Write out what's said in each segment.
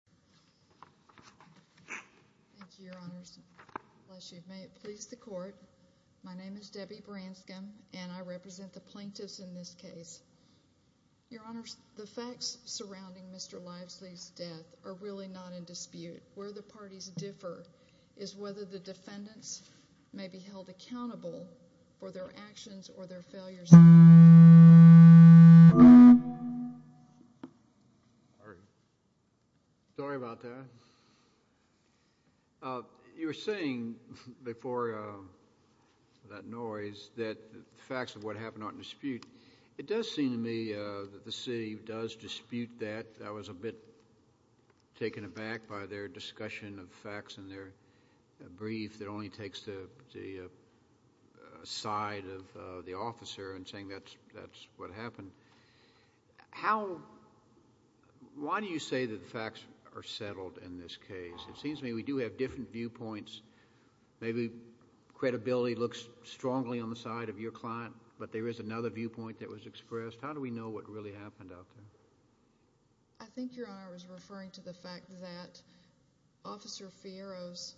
Debbie Branscom, Plaintiff's Defendant You were saying before that noise that the facts of what happened aren't in dispute. It does seem to me that the city does dispute that. I was a bit taken aback by their discussion of facts in their brief that only takes the side of the officer and saying that's what happened. Why do you say that the facts are settled in this case? It seems to me we do have different viewpoints. Maybe credibility looks strongly on the side of your client, but there is another viewpoint that was expressed. How do we know what really happened out there? I think, Your Honor, I was referring to the fact that Officer Fierro's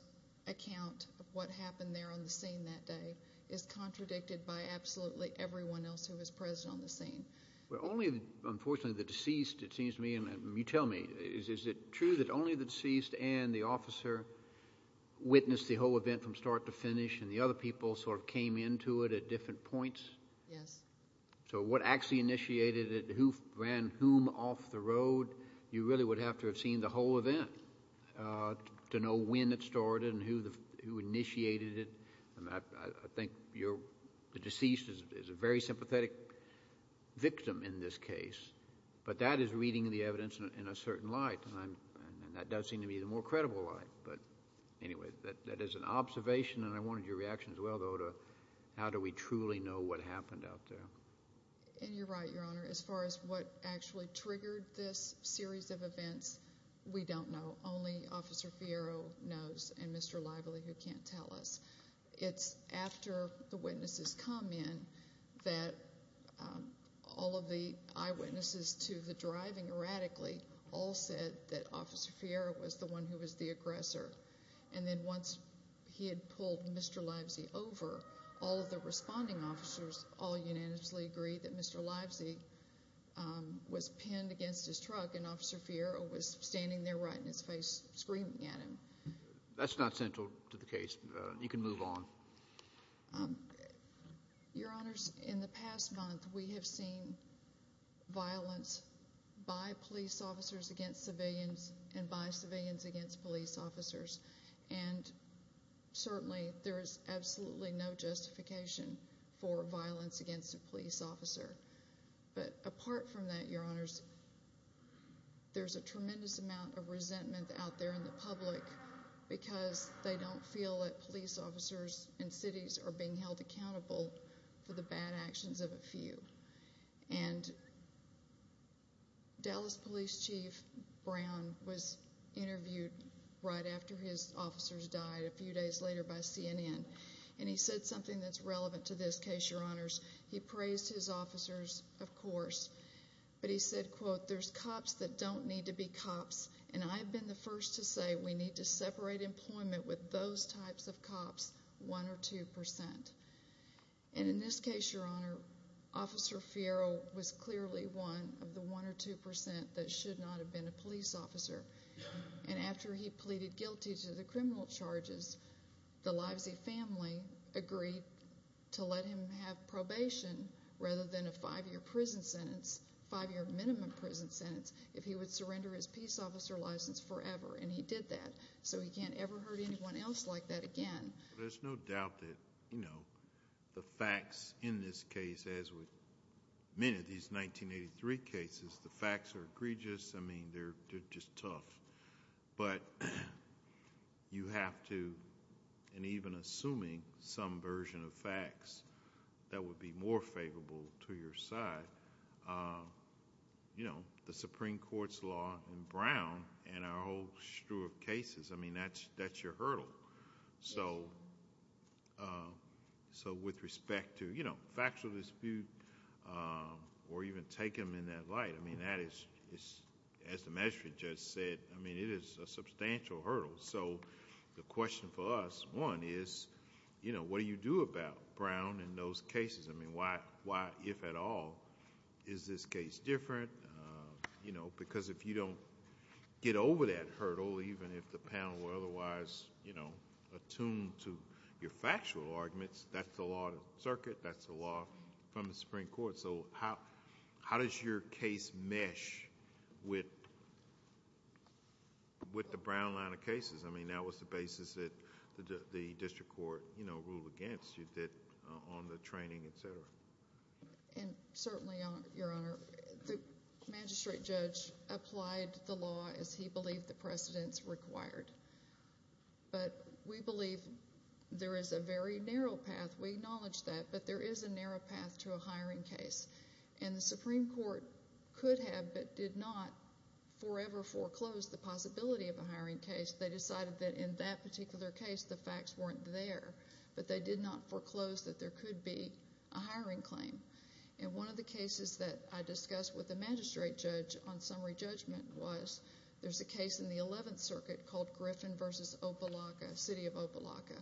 account of what happened there on the scene that day is contradicted by absolutely everyone else who was present on the scene. Well, only, unfortunately, the deceased, it seems to me, and you tell me, is it true that only the deceased and the officer witnessed the whole event from start to finish and the other people sort of came into it at different points? Yes. So what actually initiated it, who ran whom off the road, you really would have to have seen the whole event to know when it started and who initiated it. I think the deceased is a very sympathetic victim in this case, but that is reading the evidence in a certain light, and that does seem to me the more credible light. But anyway, that is an observation, and I wanted your reaction as well, though, to how do we truly know what happened out there? And you're right, Your Honor. As far as what actually triggered this series of events, we don't know. Only Officer Fierro knows and Mr. Lively, who can't tell us. It's after the witnesses come in that all of the eyewitnesses to the driving erratically all said that Officer Fierro was the one who was the aggressor. And then once he had pulled Mr. Lively over, all of the responding officers all unanimously agreed that Mr. Lively was pinned against his truck and Officer Fierro was standing there right in his face screaming at him. That's not central to the case. You can move on. Your Honors, in the past month, we have seen violence by police officers against civilians and by civilians against police officers, and certainly there is absolutely no justification for violence against a police officer. But apart from that, Your Honors, there's a tremendous amount of resentment out there in the public because they don't feel that police officers in cities are being held accountable for the bad actions of a few. And Dallas Police Chief Brown was interviewed right after his officers died a few days later by CNN, and he said something that's relevant to this case, Your Honors. He praised his officers, of course, but he said, quote, there's cops that don't need to be cops, and I've been the first to say we need to separate employment with those types of cops, one or two percent. And in this case, Your Honor, Officer Fierro was clearly one of the one or two percent that should not have been a police officer. And after he pleaded guilty to the criminal charges, the Livesey family agreed to let him have probation rather than a five-year prison sentence, five-year minimum prison sentence, if he would surrender his peace officer license forever, and he did that, so he can't ever hurt anyone else like that again. There's no doubt that the facts in this case, as with many of these 1983 cases, the facts are egregious. I mean, they're just tough, but you have to... and even assuming some version of facts that would be more favorable to your side, the Supreme Court's law in Brown and our whole strew of cases, I mean, that's your hurdle. So with respect to factual dispute or even take them in that light, I mean, that is, as the magistrate just said, I mean, it is a substantial hurdle. So the question for us, one, is what do you do about Brown and those cases? I mean, why, if at all, is this case different? Because if you don't get over that hurdle, even if the panel were otherwise attuned to your factual arguments, that's the law of the circuit, that's the law from the Supreme Court. So how does your case mesh with the Brown line of cases? I mean, that was the basis that the district court, you know, ruled against you, that... on the training, et cetera. Ms. Baird. And certainly, Your Honor, the magistrate judge applied the law as he believed the precedents required, but we believe there is a very narrow path, we acknowledge that, but there is a narrow path. And the Supreme Court could have but did not forever foreclose the possibility of a hiring case. They decided that in that particular case, the facts weren't there, but they did not foreclose that there could be a hiring claim. And one of the cases that I discussed with the magistrate judge on summary judgment was there's a case in the Eleventh Circuit called Griffin v. Opalaca, City of Opalaca,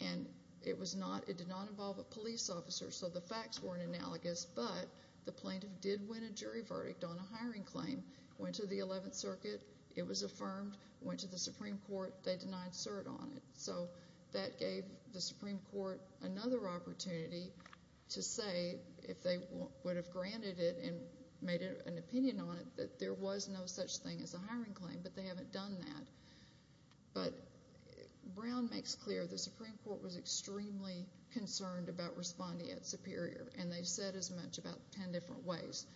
and it was not... it did not involve a police officer, so the facts weren't analogous, but the plaintiff did win a jury verdict on a hiring claim, went to the Eleventh Circuit, it was affirmed, went to the Supreme Court, they denied cert on it. So that gave the Supreme Court another opportunity to say if they would have granted it and made an opinion on it, that there was no such thing as a hiring claim, but they haven't done that. But Brown makes clear the Supreme Court was extremely concerned about respondeat superior, and they've said as much about ten different ways,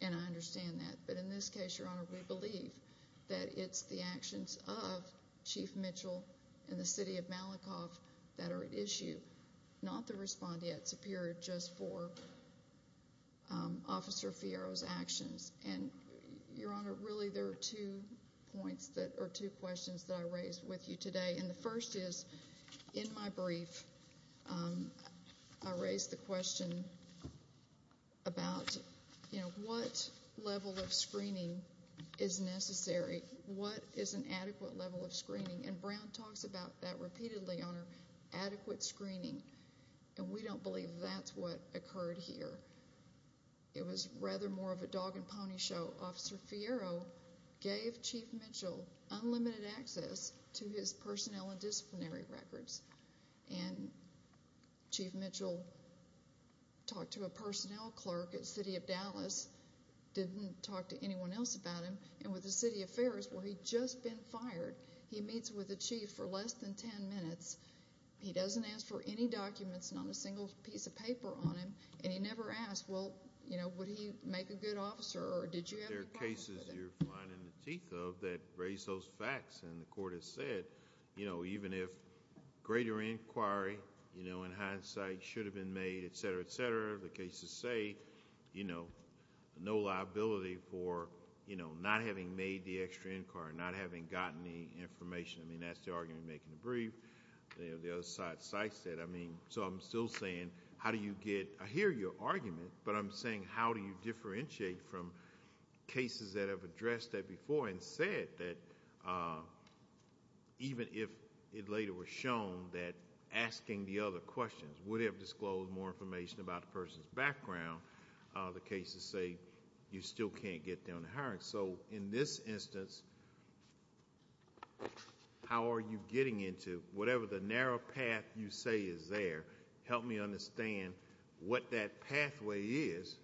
and I understand that. But in this case, Your Honor, we believe that it's the actions of Chief Mitchell and the City of Malakoff that are at issue, not the respondeat superior, just for Officer Fiero's actions. And, Your Honor, really there are two questions that I raised with you today, and the first is, in my brief, I raised the question about what level of screening is necessary, what is an adequate level of screening, and Brown talks about that repeatedly, Your Honor, adequate screening, and we don't believe that's what occurred here. It was rather more of a dog and pony show. Officer Fiero gave Chief Mitchell unlimited access to his personnel and disciplinary records, and Chief Mitchell talked to a personnel clerk at the City of Dallas, didn't talk to anyone else about him, and with the City of Ferris, where he'd just been fired, he meets with the chief for less than ten minutes, he doesn't ask for any documents, not a single piece of paper on him, and he never asked, well, would he make a good officer, or did you have any problems with him?... There are cases you're blind in the teeth of that raise those facts, and the court has said, even if greater inquiry, in hindsight, should have been made, et cetera, et cetera, the cases say, no liability for not having made the extra inquiry, not having gotten any information. That's the argument I'm making in the brief. The other side, so I said, I mean, so I'm still saying, how do you get... I hear your argument, but I'm saying, how do you differentiate from cases that have addressed that before and said that, even if it later was shown that asking the other questions would have disclosed more information about the person's background, the cases say you still can't get down to hiring. In this instance, how are you getting into, whatever the narrow path you say is there, help me understand what that pathway is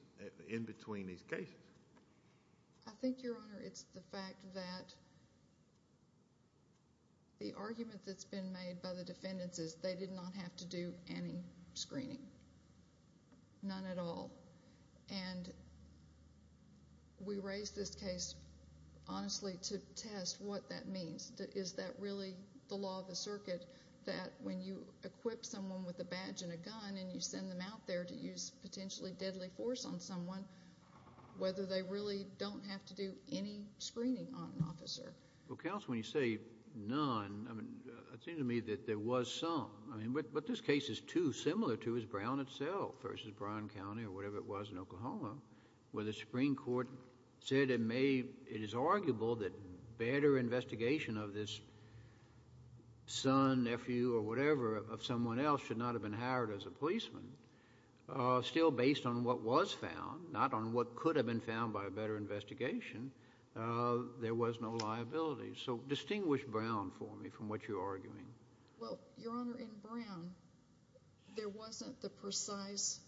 in between these cases.... I think, Your Honor, it's the fact that the argument that's been made by the defendants is they did not have to do any screening, none at all. And we raise this case, honestly, to test what that means. Is that really the law of the circuit, that when you equip someone with a badge and a gun and you send them out there to use potentially deadly force on someone, whether they really don't have to do any screening on an officer? Well, counsel, when you say none, I mean, it seems to me that there was some. But this case is too similar to his Brown itself versus Brown County or whatever it was in Oklahoma, where the Supreme Court said it is arguable that better investigation of this son, nephew, or whatever of someone else should not have been hired as a policeman. Still based on what was found, not on what could have been found by a better investigation, there was no liability. Well, Your Honor, in Brown, there wasn't the precise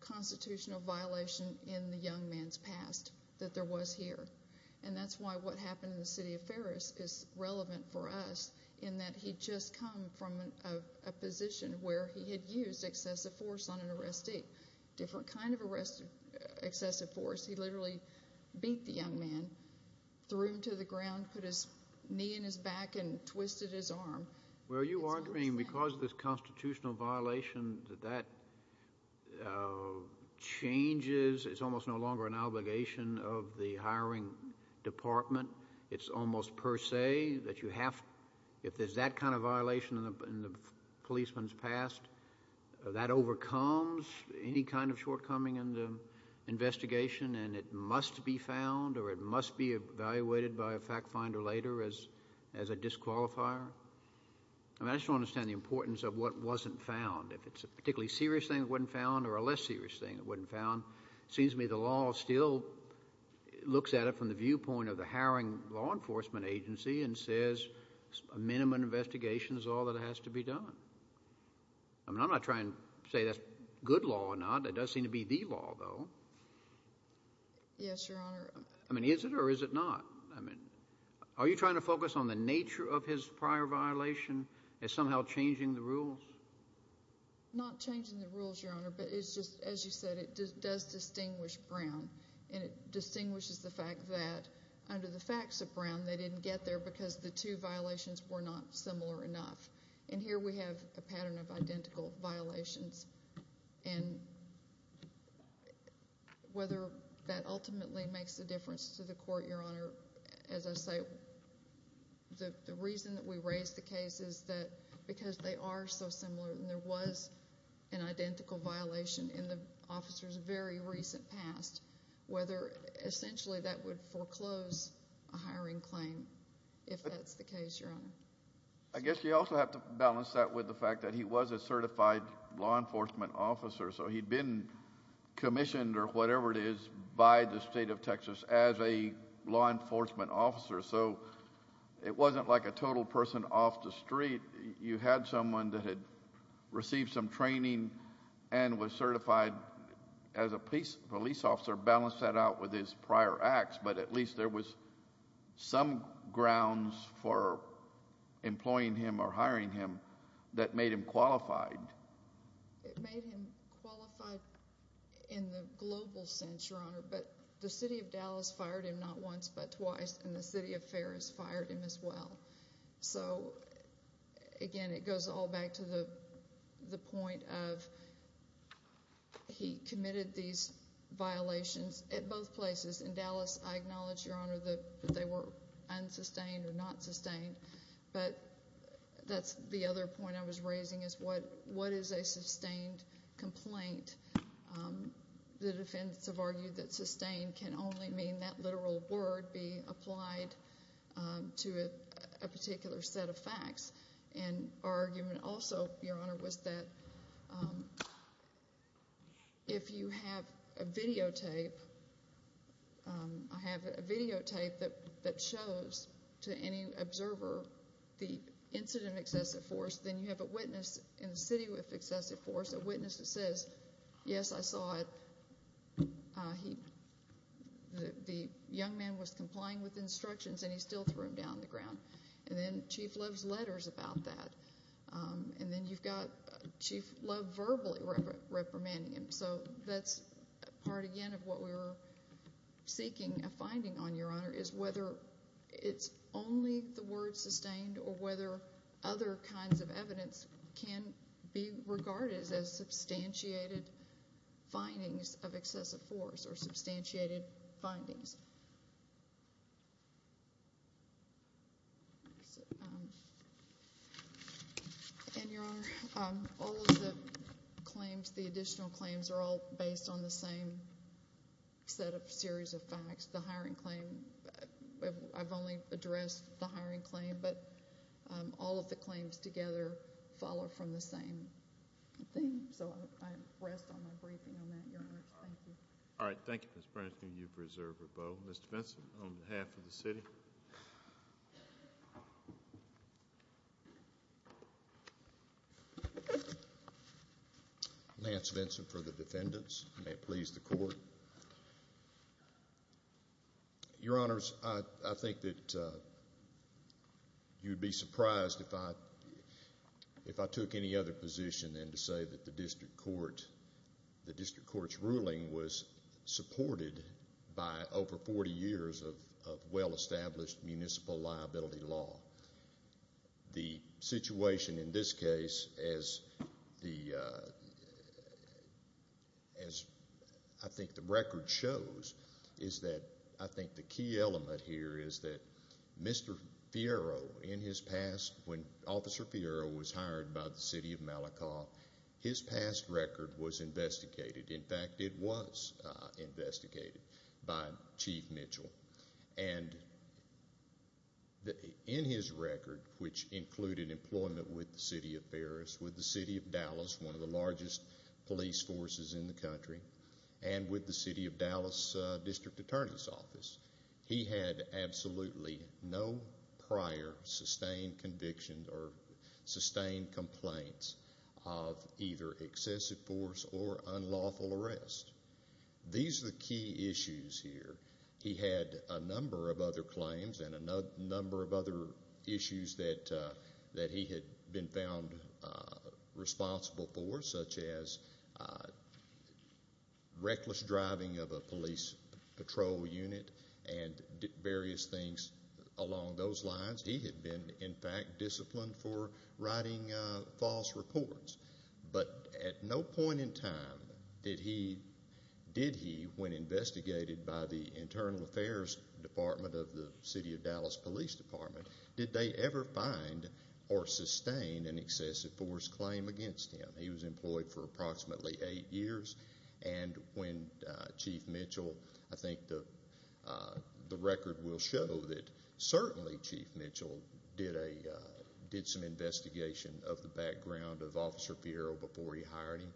constitutional violation in the young man's past that there was here. And that's why what happened in the city of Ferris is relevant for us in that he'd just come from a position where he had used excessive force on an arrestee, different kind of excessive force. He literally beat the young man, threw him to the ground, put his knee in his back and twisted his arm. Well, are you arguing because of this constitutional violation that that changes, it's almost no longer an obligation of the hiring department? It's almost per se that you have, if there's that kind of violation in the policeman's past, that overcomes any kind of shortcoming in the investigation and it must be found or it must be evaluated by a fact finder later as a disqualifier? I just don't understand the importance of what wasn't found. If it's a particularly serious thing that wasn't found or a less serious thing that wasn't found, it seems to me the law still looks at it from the viewpoint of the hiring law enforcement agency and says a minimum investigation is all that has to be done. I mean, I'm not trying to say that's good law or not. It does seem to be the law, though. Yes, Your Honor. I mean, is it or is it not? I mean, are you trying to focus on the nature of his prior violation as somehow changing the rules? Not changing the rules, Your Honor, but it's just, as you said, it does distinguish Brown and it distinguishes the fact that under the facts of Brown, they didn't get there because the two violations were not similar enough. And here we have a pattern of identical violations. And whether that ultimately makes a difference to the court, Your Honor, as I say, the reason that we raise the case is that because they are so similar and there was an identical violation in the officer's very recent past, whether essentially that would foreclose a hiring claim if that's the case, Your Honor. I guess you also have to balance that with the fact that he was a certified law enforcement officer. So he'd been commissioned or whatever it is by the state of Texas as a law enforcement officer. So it wasn't like a total person off the street. You had someone that had received some training and was certified as a police officer. Your Honor, balance that out with his prior acts, but at least there was some grounds for employing him or hiring him that made him qualified. It made him qualified in the global sense, Your Honor, but the city of Dallas fired him not once, but twice, and the city of Ferris fired him as well. So again, it goes all back to the point of he committed these violations at both places. In Dallas, I acknowledge, Your Honor, that they were unsustained or not sustained, but that's the other point I was raising is what is a sustained complaint? The defense have argued that sustained can only mean that literal word be applied to a particular set of facts. And our argument also, Your Honor, was that if you have a videotape, I have a videotape that shows to any observer the incident excessive force, then you have a witness in the city who has excessive force, a witness that says, yes, I saw it, the young man was complying with instructions and he still threw him down on the ground, and then Chief Love's letters about that, and then you've got Chief Love verbally reprimanding him. So that's part, again, of what we were seeking a finding on, Your Honor, is whether it's only the word sustained or whether other kinds of evidence can be regarded as substantiated findings of excessive force or substantiated findings. And, Your Honor, all of the claims, the additional claims, are all based on the same set of series of facts. I've only addressed the hiring claim, but all of the claims together follow from the same thing. So I rest on my breathing on that, Your Honor. Thank you. All right. Thank you, Ms. Bransman. You've reserved a bow. Mr. Vinson, on behalf of the city. Lance Vinson for the defendants. May it please the Court. Thank you. Your Honors, I think that you'd be surprised if I took any other position than to say that the district court's ruling was supported by over 40 years of well-established municipal liability law. The situation in this case, as I think the record shows, is that I think the key element here is that Mr. Fierro, in his past, when Officer Fierro was hired by the City of Malacawe, his past record was investigated. In fact, it was investigated by Chief Mitchell. And in his record, which included employment with the City of Ferris, with the City of Dallas, one of the largest police forces in the country, and with the City of Dallas District Attorney's Office, he had absolutely no prior sustained conviction or sustained complaints of either excessive force or unlawful arrest. These are the key issues here. He had a number of other claims and a number of other issues that he had been found responsible for, such as reckless driving of a police patrol unit and various things along those lines. He had been, in fact, disciplined for writing false reports. But at no point in time did he, when investigated by the Internal Affairs Department of the City of Dallas Police Department, did they ever find or sustain an excessive force claim against him. He was employed for approximately eight years. And when Chief Mitchell, I think the record will show that certainly Chief Mitchell did some investigation of the background of Officer Piero before he hired him.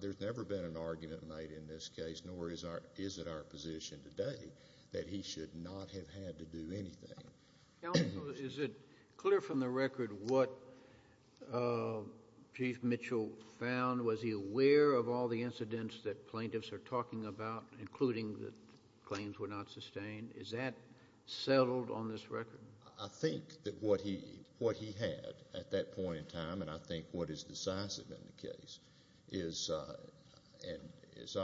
There's never been an argument made in this case, nor is it our position today, that he should not have had to do anything. Is it clear from the record what Chief Mitchell found? Was he aware of all the incidents that plaintiffs are talking about, including the claims were not sustained? Is that settled on this record? I think that what he had at that point in time, and I think what is decisive in the case, is, as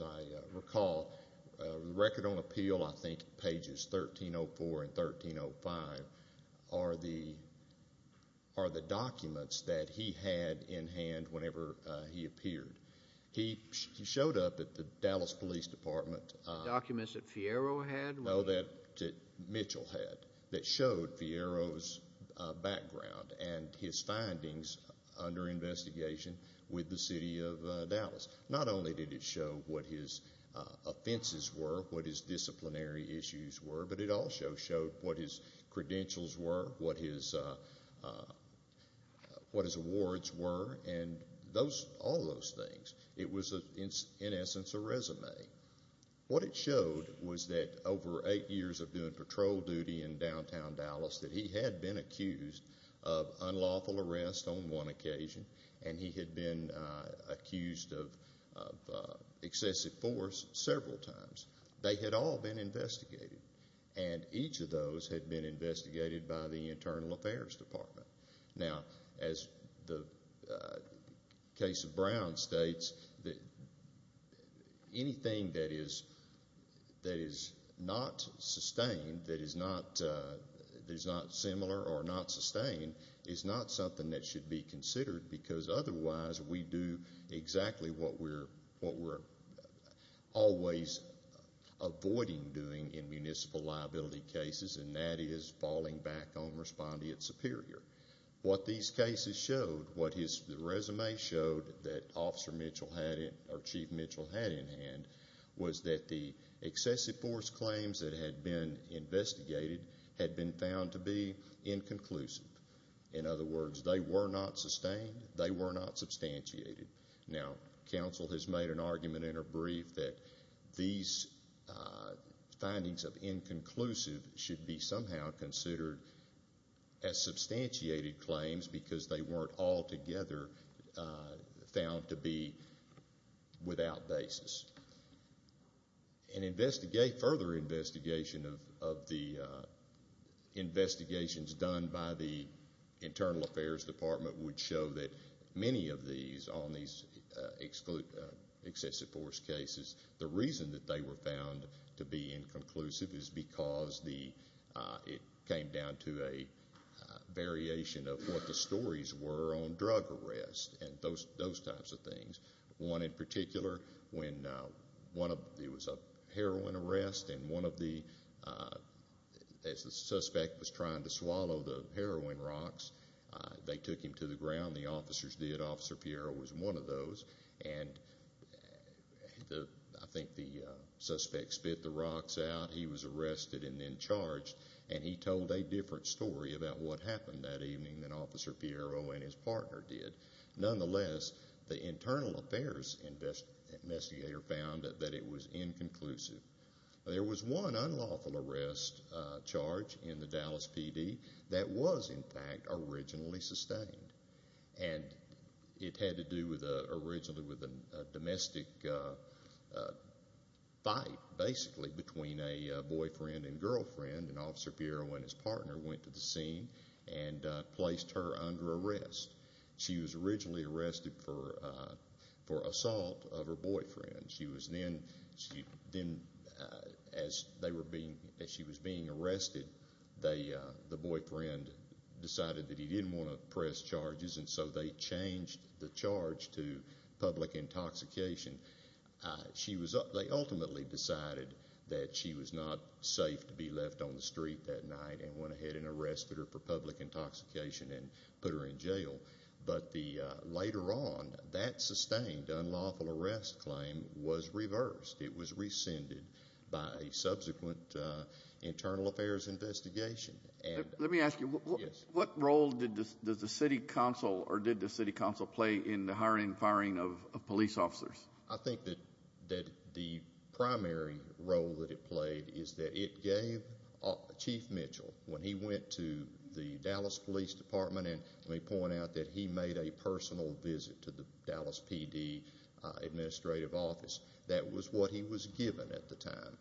I recall, record on appeal, I think pages 1304 and 1305, are the documents that he had in hand whenever he appeared. He showed up at the Dallas Police Department. Documents that Piero had? Documents that Mitchell had that showed Piero's background and his findings under investigation with the city of Dallas. Not only did it show what his offenses were, what his disciplinary issues were, but it also showed what his credentials were, what his awards were, and all those things. It was, in essence, a resume. What it showed was that over eight years of doing patrol duty in downtown Dallas, that he had been accused of unlawful arrest on one occasion, and he had been accused of excessive force several times. They had all been investigated, and each of those had been investigated by the Internal Affairs Department. Now, as the case of Brown states, anything that is not sustained, that is not similar or not sustained, is not something that should be considered, because otherwise, we do exactly what we're always avoiding doing in municipal liability cases, and that is falling back on respondeat superior. What these cases showed, what his resume showed that Officer Mitchell had, or Chief Mitchell had in hand, was that the excessive force claims that had been investigated had been found to be inconclusive. In other words, they were not sustained. They were not substantiated. Now, counsel has made an argument in her brief that these findings of inconclusive should be somehow considered as substantiated claims because they weren't altogether found to be without basis. Further investigation of the investigations done by the Internal Affairs Department would show that many of these, on these excessive force cases, the reason that they were found to be inconclusive is because it came down to a variation of what the stories were on drug arrests and those types of things. One in particular, when one of, it was a heroin arrest, and one of the, as the suspect was trying to swallow the heroin rocks, they took him to the ground, the officers did, Officer Piero was one of those, and the, I think the suspect spit the rocks out, he was arrested and then charged, and he told a different story about what happened that evening than Officer Piero and his partner did. Nonetheless, the Internal Affairs investigator found that it was inconclusive. There was one unlawful arrest charge in the Dallas PD that was, in fact, originally sustained. And it had to do originally with a domestic fight, basically, between a boyfriend and girlfriend, and Officer Piero and his partner went to the scene and placed her under arrest. She was originally arrested for assault of her boyfriend. She was then, as they were being, as she was being arrested, the boyfriend decided that he didn't want to press charges, and so they changed the charge to public intoxication. She was, they ultimately decided that she was not safe to be left on the street that night and went ahead and arrested her for public intoxication and put her in jail. But the, later on, that sustained unlawful arrest claim was reversed. It was rescinded by a subsequent Internal Affairs investigation. Let me ask you, what role did the City Council, or did the City Council play in the hiring and firing of police officers? I think that the primary role that it played is that it gave Chief Mitchell, when he went to the Dallas Police Department, and let me point out that he made a personal visit to the Dallas PD Administrative Office, that was what he was given at the time.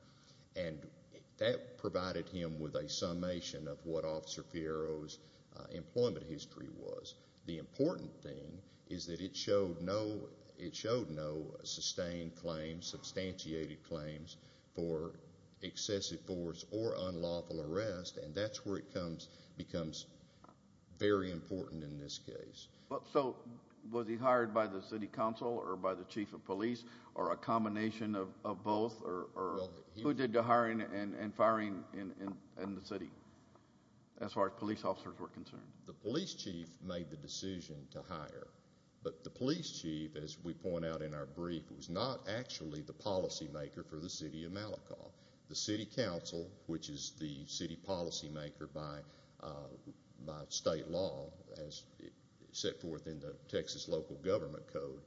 And that provided him with a summation of what Officer Fierro's employment history was. The important thing is that it showed no, it showed no sustained claims, substantiated claims for excessive force or unlawful arrest, and that's where it comes, becomes very important in this case. So, was he hired by the City Council or by the Chief of Police, or a combination of both, or who did the hiring and firing in the city, as far as police officers were concerned? The Police Chief made the decision to hire, but the Police Chief, as we point out in our brief, was not actually the policymaker for the City of Malacca. The City Council, which is the city policymaker by state law, as set forth in the Texas local government code,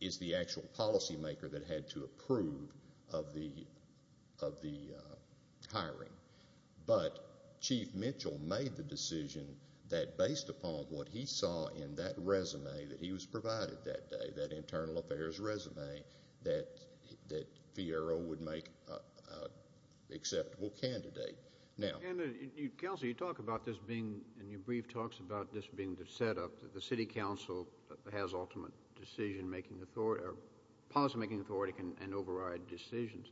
is the actual policymaker that had to approve of the hiring. But Chief Mitchell made the decision that, based upon what he saw in that resume that he was provided that day, that internal affairs resume, that Fierro would make an acceptable candidate. And, Counselor, you talk about this being, in your brief, talks about this being the setup that the City Council has ultimate decision-making authority, or policymaking authority can override decisions.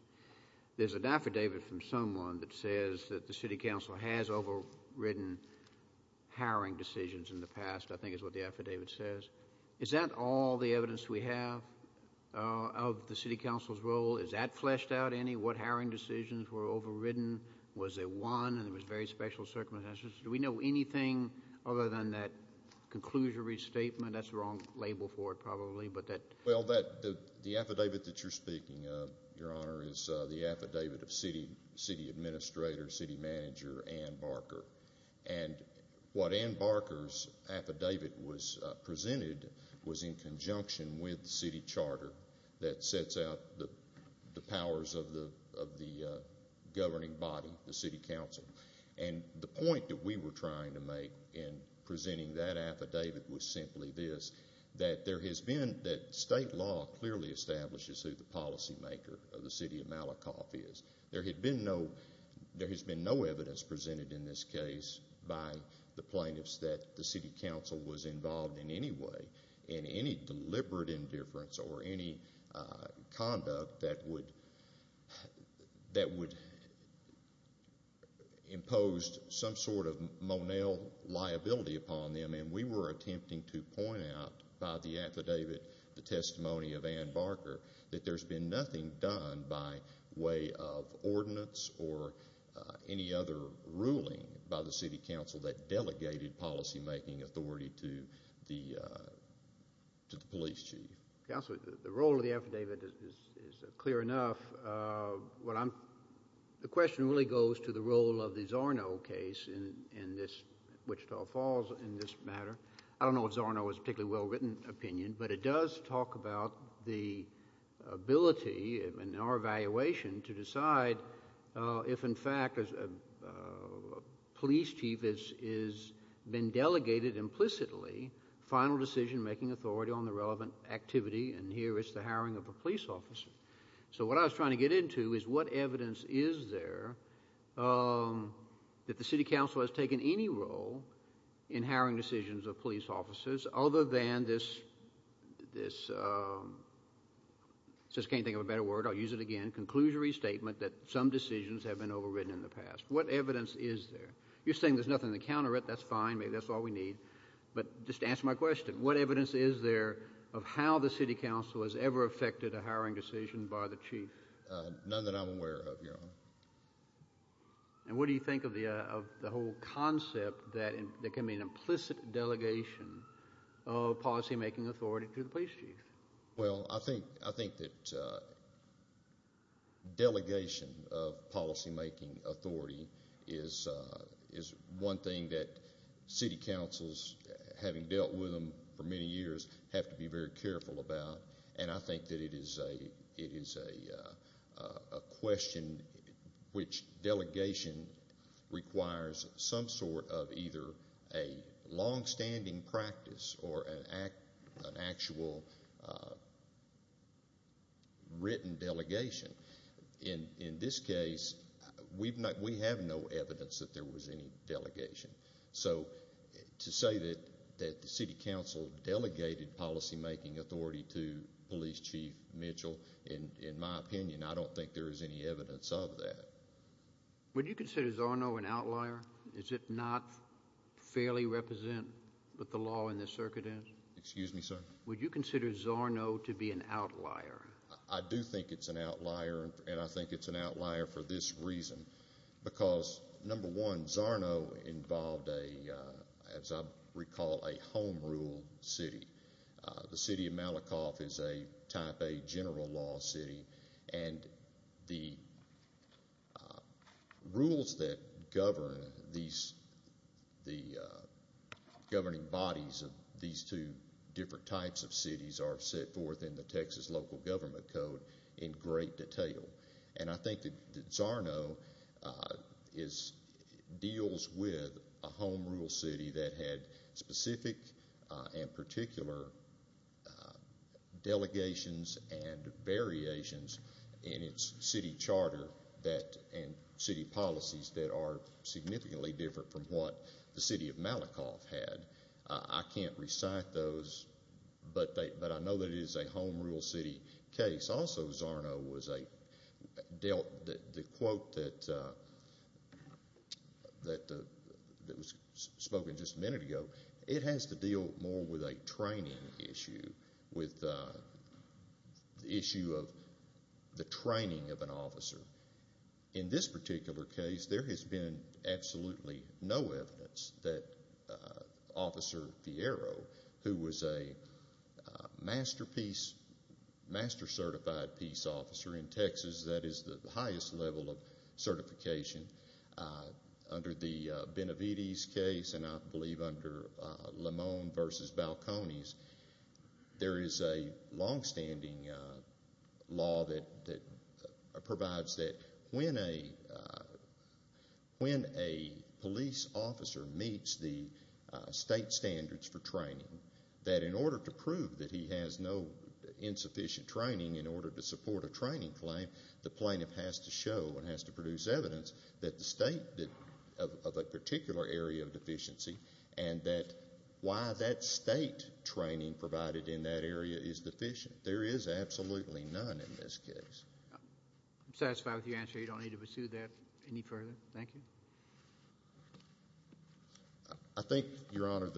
There's an affidavit from someone that says that the City Council has overridden hiring decisions in the past, I think is what the affidavit says. Is that all the evidence we have of the City Council's role? Is that fleshed out any, what hiring decisions were overridden? Was there one, and there was very special circumstances? Do we know anything other than that conclusory statement? That's the wrong label for it, probably, but that... Well, the affidavit that you're speaking of, Your Honor, is the affidavit of City Administrator, City Manager, Ann Barker. And what Ann Barker's affidavit presented was in conjunction with the City Charter that sets out the powers of the governing body, the City Council. And the point that we were trying to make in presenting that affidavit was simply this, that there has been, that state law clearly establishes who the policymaker of the City of Malakoff is. There had been no, there has been no evidence presented in this case by the plaintiffs that the City Council was involved in any way in any deliberate indifference or any conduct that would impose some sort of Monell liability upon them. And we were attempting to point out by the affidavit, the testimony of Ann Barker, that there's been nothing done by way of ordinance or any other ruling by the City Council that is making authority to the police chief. Counselor, the role of the affidavit is clear enough. The question really goes to the role of the Zorno case in this, Wichita Falls, in this matter. I don't know if Zorno is a particularly well-written opinion, but it does talk about the ability in our evaluation to decide if, in fact, a police chief has been delegated implicitly final decision-making authority on the relevant activity, and here it's the hiring of a police officer. So what I was trying to get into is what evidence is there that the City Council has taken any role in hiring decisions of police officers, other than this, I just can't think of a better word, I'll use it again, conclusory statement that some decisions have been overwritten in the past. What evidence is there? You're saying there's nothing to counter it. That's fine. Maybe that's all we need. But just answer my question. What evidence is there of how the City Council has ever affected a hiring decision by the chief? None that I'm aware of, Your Honor. And what do you think of the whole concept that can be an implicit delegation of policy-making authority to the police chief? Well, I think that delegation of policy-making authority is one thing that City Councils, having dealt with them for many years, have to be very careful about, and I think that it is a question which delegation requires some sort of either a long-standing practice or an actual written delegation. In this case, we have no evidence that there was any delegation. So to say that the City Council delegated policy-making authority to Police Chief Mitchell, in my opinion, I don't think there is any evidence of that. Would you consider Zorno an outlier? Is it not fairly represent what the law in this circuit is? Excuse me, sir? Would you consider Zorno to be an outlier? I do think it's an outlier, and I think it's an outlier for this reason, because number one, Zorno involved, as I recall, a home rule city. The city of Malakoff is a type A general law city, and the rules that govern the governing bodies of these two different types of cities are set forth in the Texas Local Government Code in great detail. And I think that Zorno deals with a home rule city that had specific and particular delegations and variations in its city charter and city policies that are significantly different from what the city of Malakoff had. I can't recite those, but I know that it is a home rule city case. It's also Zorno was a dealt, the quote that was spoken just a minute ago, it has to deal more with a training issue, with the issue of the training of an officer. In this particular case, there has been absolutely no evidence that Officer Fiero, who was a masterpiece, master-certified peace officer in Texas, that is the highest level of certification. Under the Benavides case, and I believe under Lamone v. Balcones, there is a longstanding law that provides that when a police officer meets the state standards for training, that in order to prove that he has no insufficient training in order to support a training claim, the plaintiff has to show and has to produce evidence that the state of a particular area of deficiency and that why that state training provided in that area is deficient. There is absolutely none in this case. I'm satisfied with your answer. You don't need to pursue that any further, thank you. I think, Your Honor,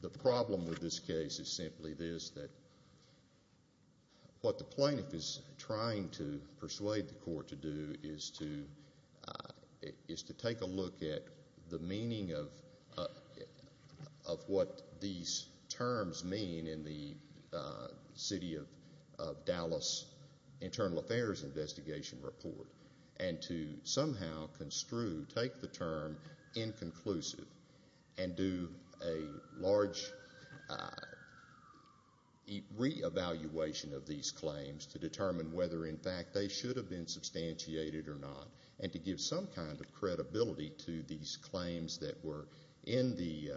the problem with this case is simply this, that what the plaintiff is trying to persuade the court to do is to take a look at the meaning of what these terms mean in the City of Dallas Internal Affairs Investigation Report and to somehow construe, take the term inconclusive and do a large reevaluation of these claims to determine whether, in fact, they should have been substantiated or not and to give some kind of credibility to these claims that were in the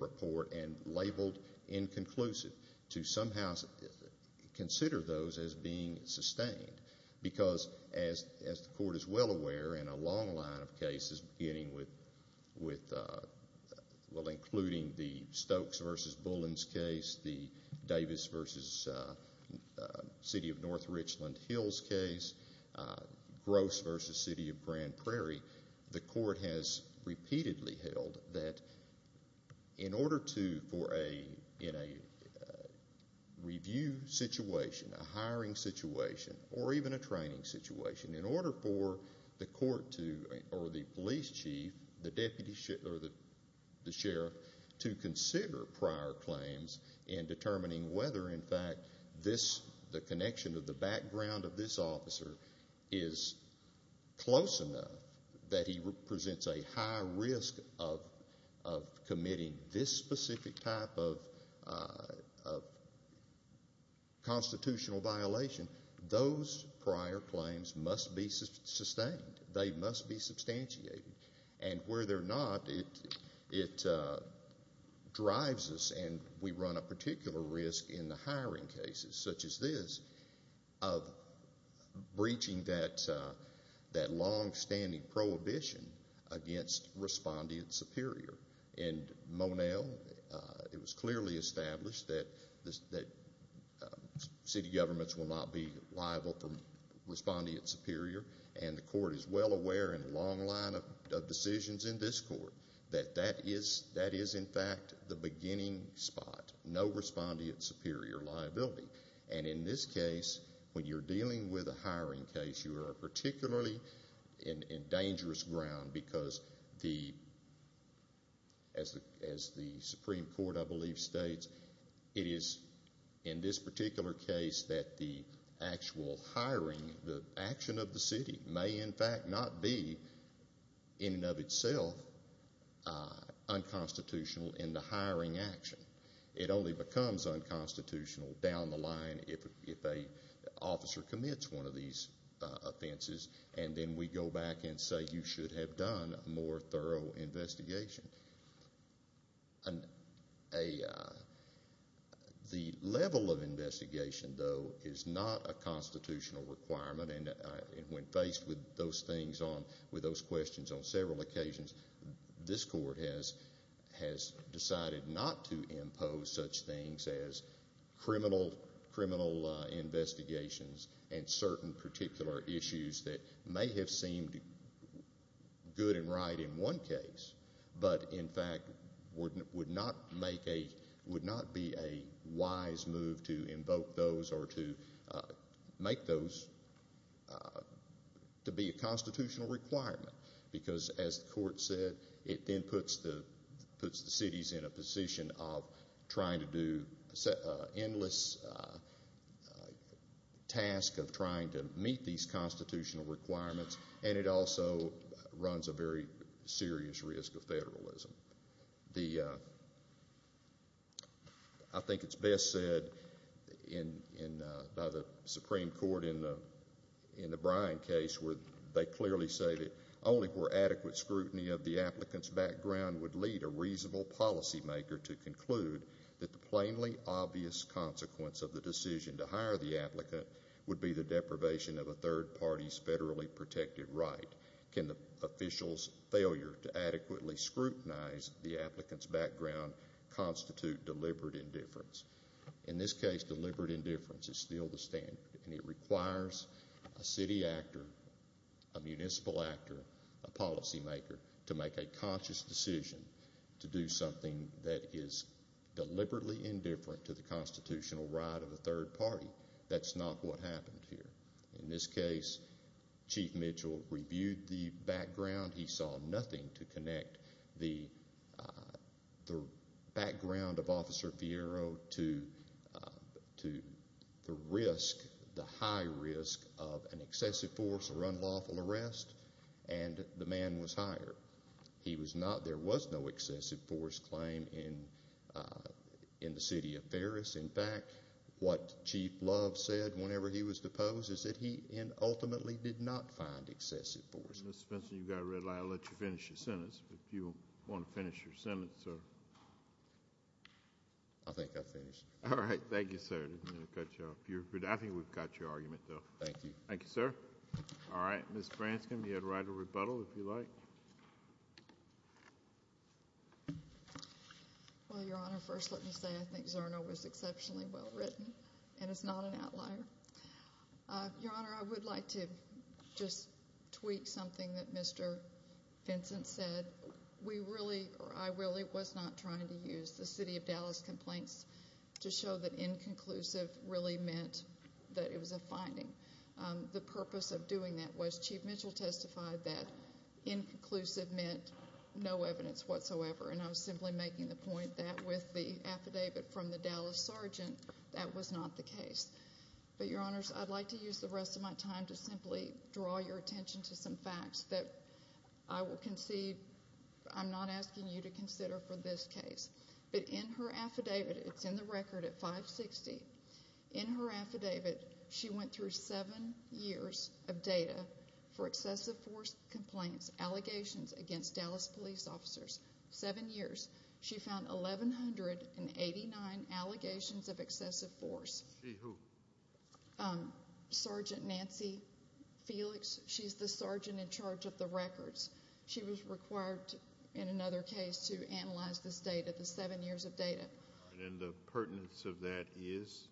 report and labeled inconclusive, to somehow consider those as being sustained because, as the court is well aware in a long line of cases, including the Stokes v. Bullins case, the Davis v. City of North Richland Hills case, Gross v. City of Grand Prairie, the court has repeatedly held that in order to, in a review situation, a hiring situation, or even a training situation, in order for the court to, or the police chief, the deputy sheriff, to consider prior claims in determining whether, in fact, the connection of the background of this officer is close enough that he presents a high risk of committing this specific type of constitutional violation, those prior claims must be sustained. They must be substantiated. And where they're not, it drives us and we run a particular risk in the hiring cases such as this of breaching that long-standing prohibition against respondeat superior. And Monell, it was clearly established that city governments will not be liable for respondeat superior and the court is well aware in a long line of decisions in this court that that is, in fact, the beginning spot, no respondeat superior liability. And in this case, when you're dealing with a hiring case, you are particularly in dangerous ground because, as the Supreme Court, I believe, states, it is in this particular case that the actual hiring, the action of the city may, in fact, not be, in and of itself, unconstitutional in the hiring action. It only becomes unconstitutional down the line if an officer commits one of these offenses and then we go back and say you should have done a more thorough investigation. The level of investigation, though, is not a constitutional requirement and when faced with those things on, with those questions on several occasions, this court has decided not to impose such things as criminal investigations and certain particular issues that may have seemed good and right in one case, but, in fact, would not make a, would not be a wise move to invoke those or to make those to be a constitutional requirement because, as the court said, it then puts the, puts the cities in a position of trying to do an endless task of trying to meet these constitutional requirements and it also runs a very serious risk of federalism. I think it is best said in, by the Supreme Court in the Bryan case where they clearly say that only for adequate scrutiny of the applicant's background would lead a reasonable policymaker to conclude that the plainly obvious consequence of the decision to hire the applicant would be the deprivation of a third party's federally protected right. Can the official's failure to adequately scrutinize the applicant's background constitute deliberate indifference? In this case, deliberate indifference is still the standard and it requires a city actor, a municipal actor, a policymaker to make a conscious decision to do something that is deliberately indifferent to the constitutional right of a third party. That's not what happened here. In this case, Chief Mitchell reviewed the background. He saw nothing to connect the background of Officer Fiero to the risk, the high risk of an excessive force or unlawful arrest and the man was hired. He was not, there was no excessive force claim in the city of Ferris. In fact, what Chief Love said whenever he was deposed is that he ultimately did not find excessive force. Mr. Spencer, you've got a red light. I'll let you finish your sentence if you want to finish your sentence, sir. I think I've finished. All right, thank you, sir. I didn't mean to cut you off. I think we've got your argument, though. Thank you. Thank you, sir. All right, Ms. Branscom, you had a right to rebuttal if you like. Well, Your Honor, first let me say I think Zerno was exceptionally well written and it's not an outlier. Your Honor, I would like to just tweak something that Mr. Vincent said. We really, I really was not trying to use the city of Dallas complaints to show that inconclusive really meant that it was a finding. The purpose of doing that was Chief Mitchell testified that inconclusive meant no evidence whatsoever, and I was simply making the point that with the affidavit from the Dallas sergeant, that was not the case. But, Your Honors, I'd like to use the rest of my time to simply draw your attention to some facts that I will concede I'm not asking you to consider for this case. But in her affidavit, it's in the record at 560. In her affidavit, she went through seven years of data for excessive force complaints, allegations against Dallas police officers. Seven years. She found 1,189 allegations of excessive force. The who? Sergeant Nancy Felix. She's the sergeant in charge of the records. She was required in another case to analyze this data, the seven years of data. And the pertinence of that is?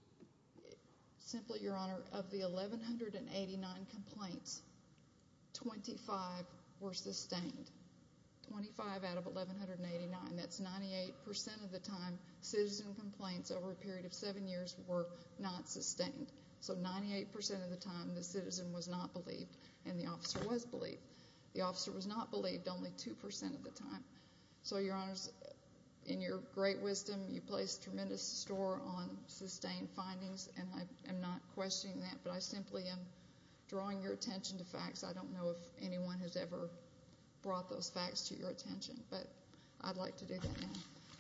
Simply, Your Honor, of the 1,189 complaints, 25 were sustained. 25 out of 1,189. That's 98% of the time citizen complaints over a period of seven years were not sustained. So 98% of the time the citizen was not believed and the officer was believed. The officer was not believed only 2% of the time. So, Your Honors, in your great wisdom, you place a tremendous store on sustained findings, and I am not questioning that, but I simply am drawing your attention to facts. I don't know if anyone has ever brought those facts to your attention, but I'd like to do that now.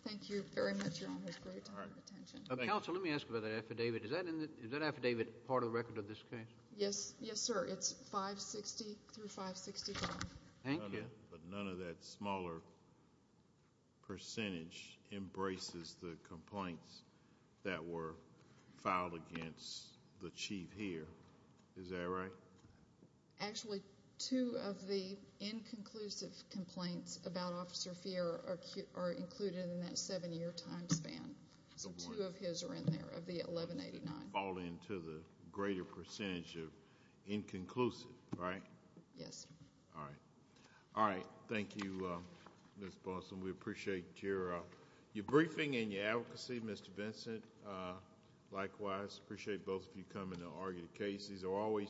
Thank you very much, Your Honors, for your time and attention. Counsel, let me ask about that affidavit. Is that affidavit part of the record of this case? Yes, sir. It's 560 through 565. Thank you. But none of that smaller percentage embraces the complaints that were filed against the chief here. Is that right? Actually, two of the inconclusive complaints about Officer Fiera are included in that seven-year time span. So two of his are in there, of the 1,189. So you fall into the greater percentage of inconclusive, right? Yes, sir. All right. All right. Thank you, Ms. Boston. We appreciate your briefing and your advocacy, Mr. Vincent. Likewise, appreciate both of you coming to argue the case.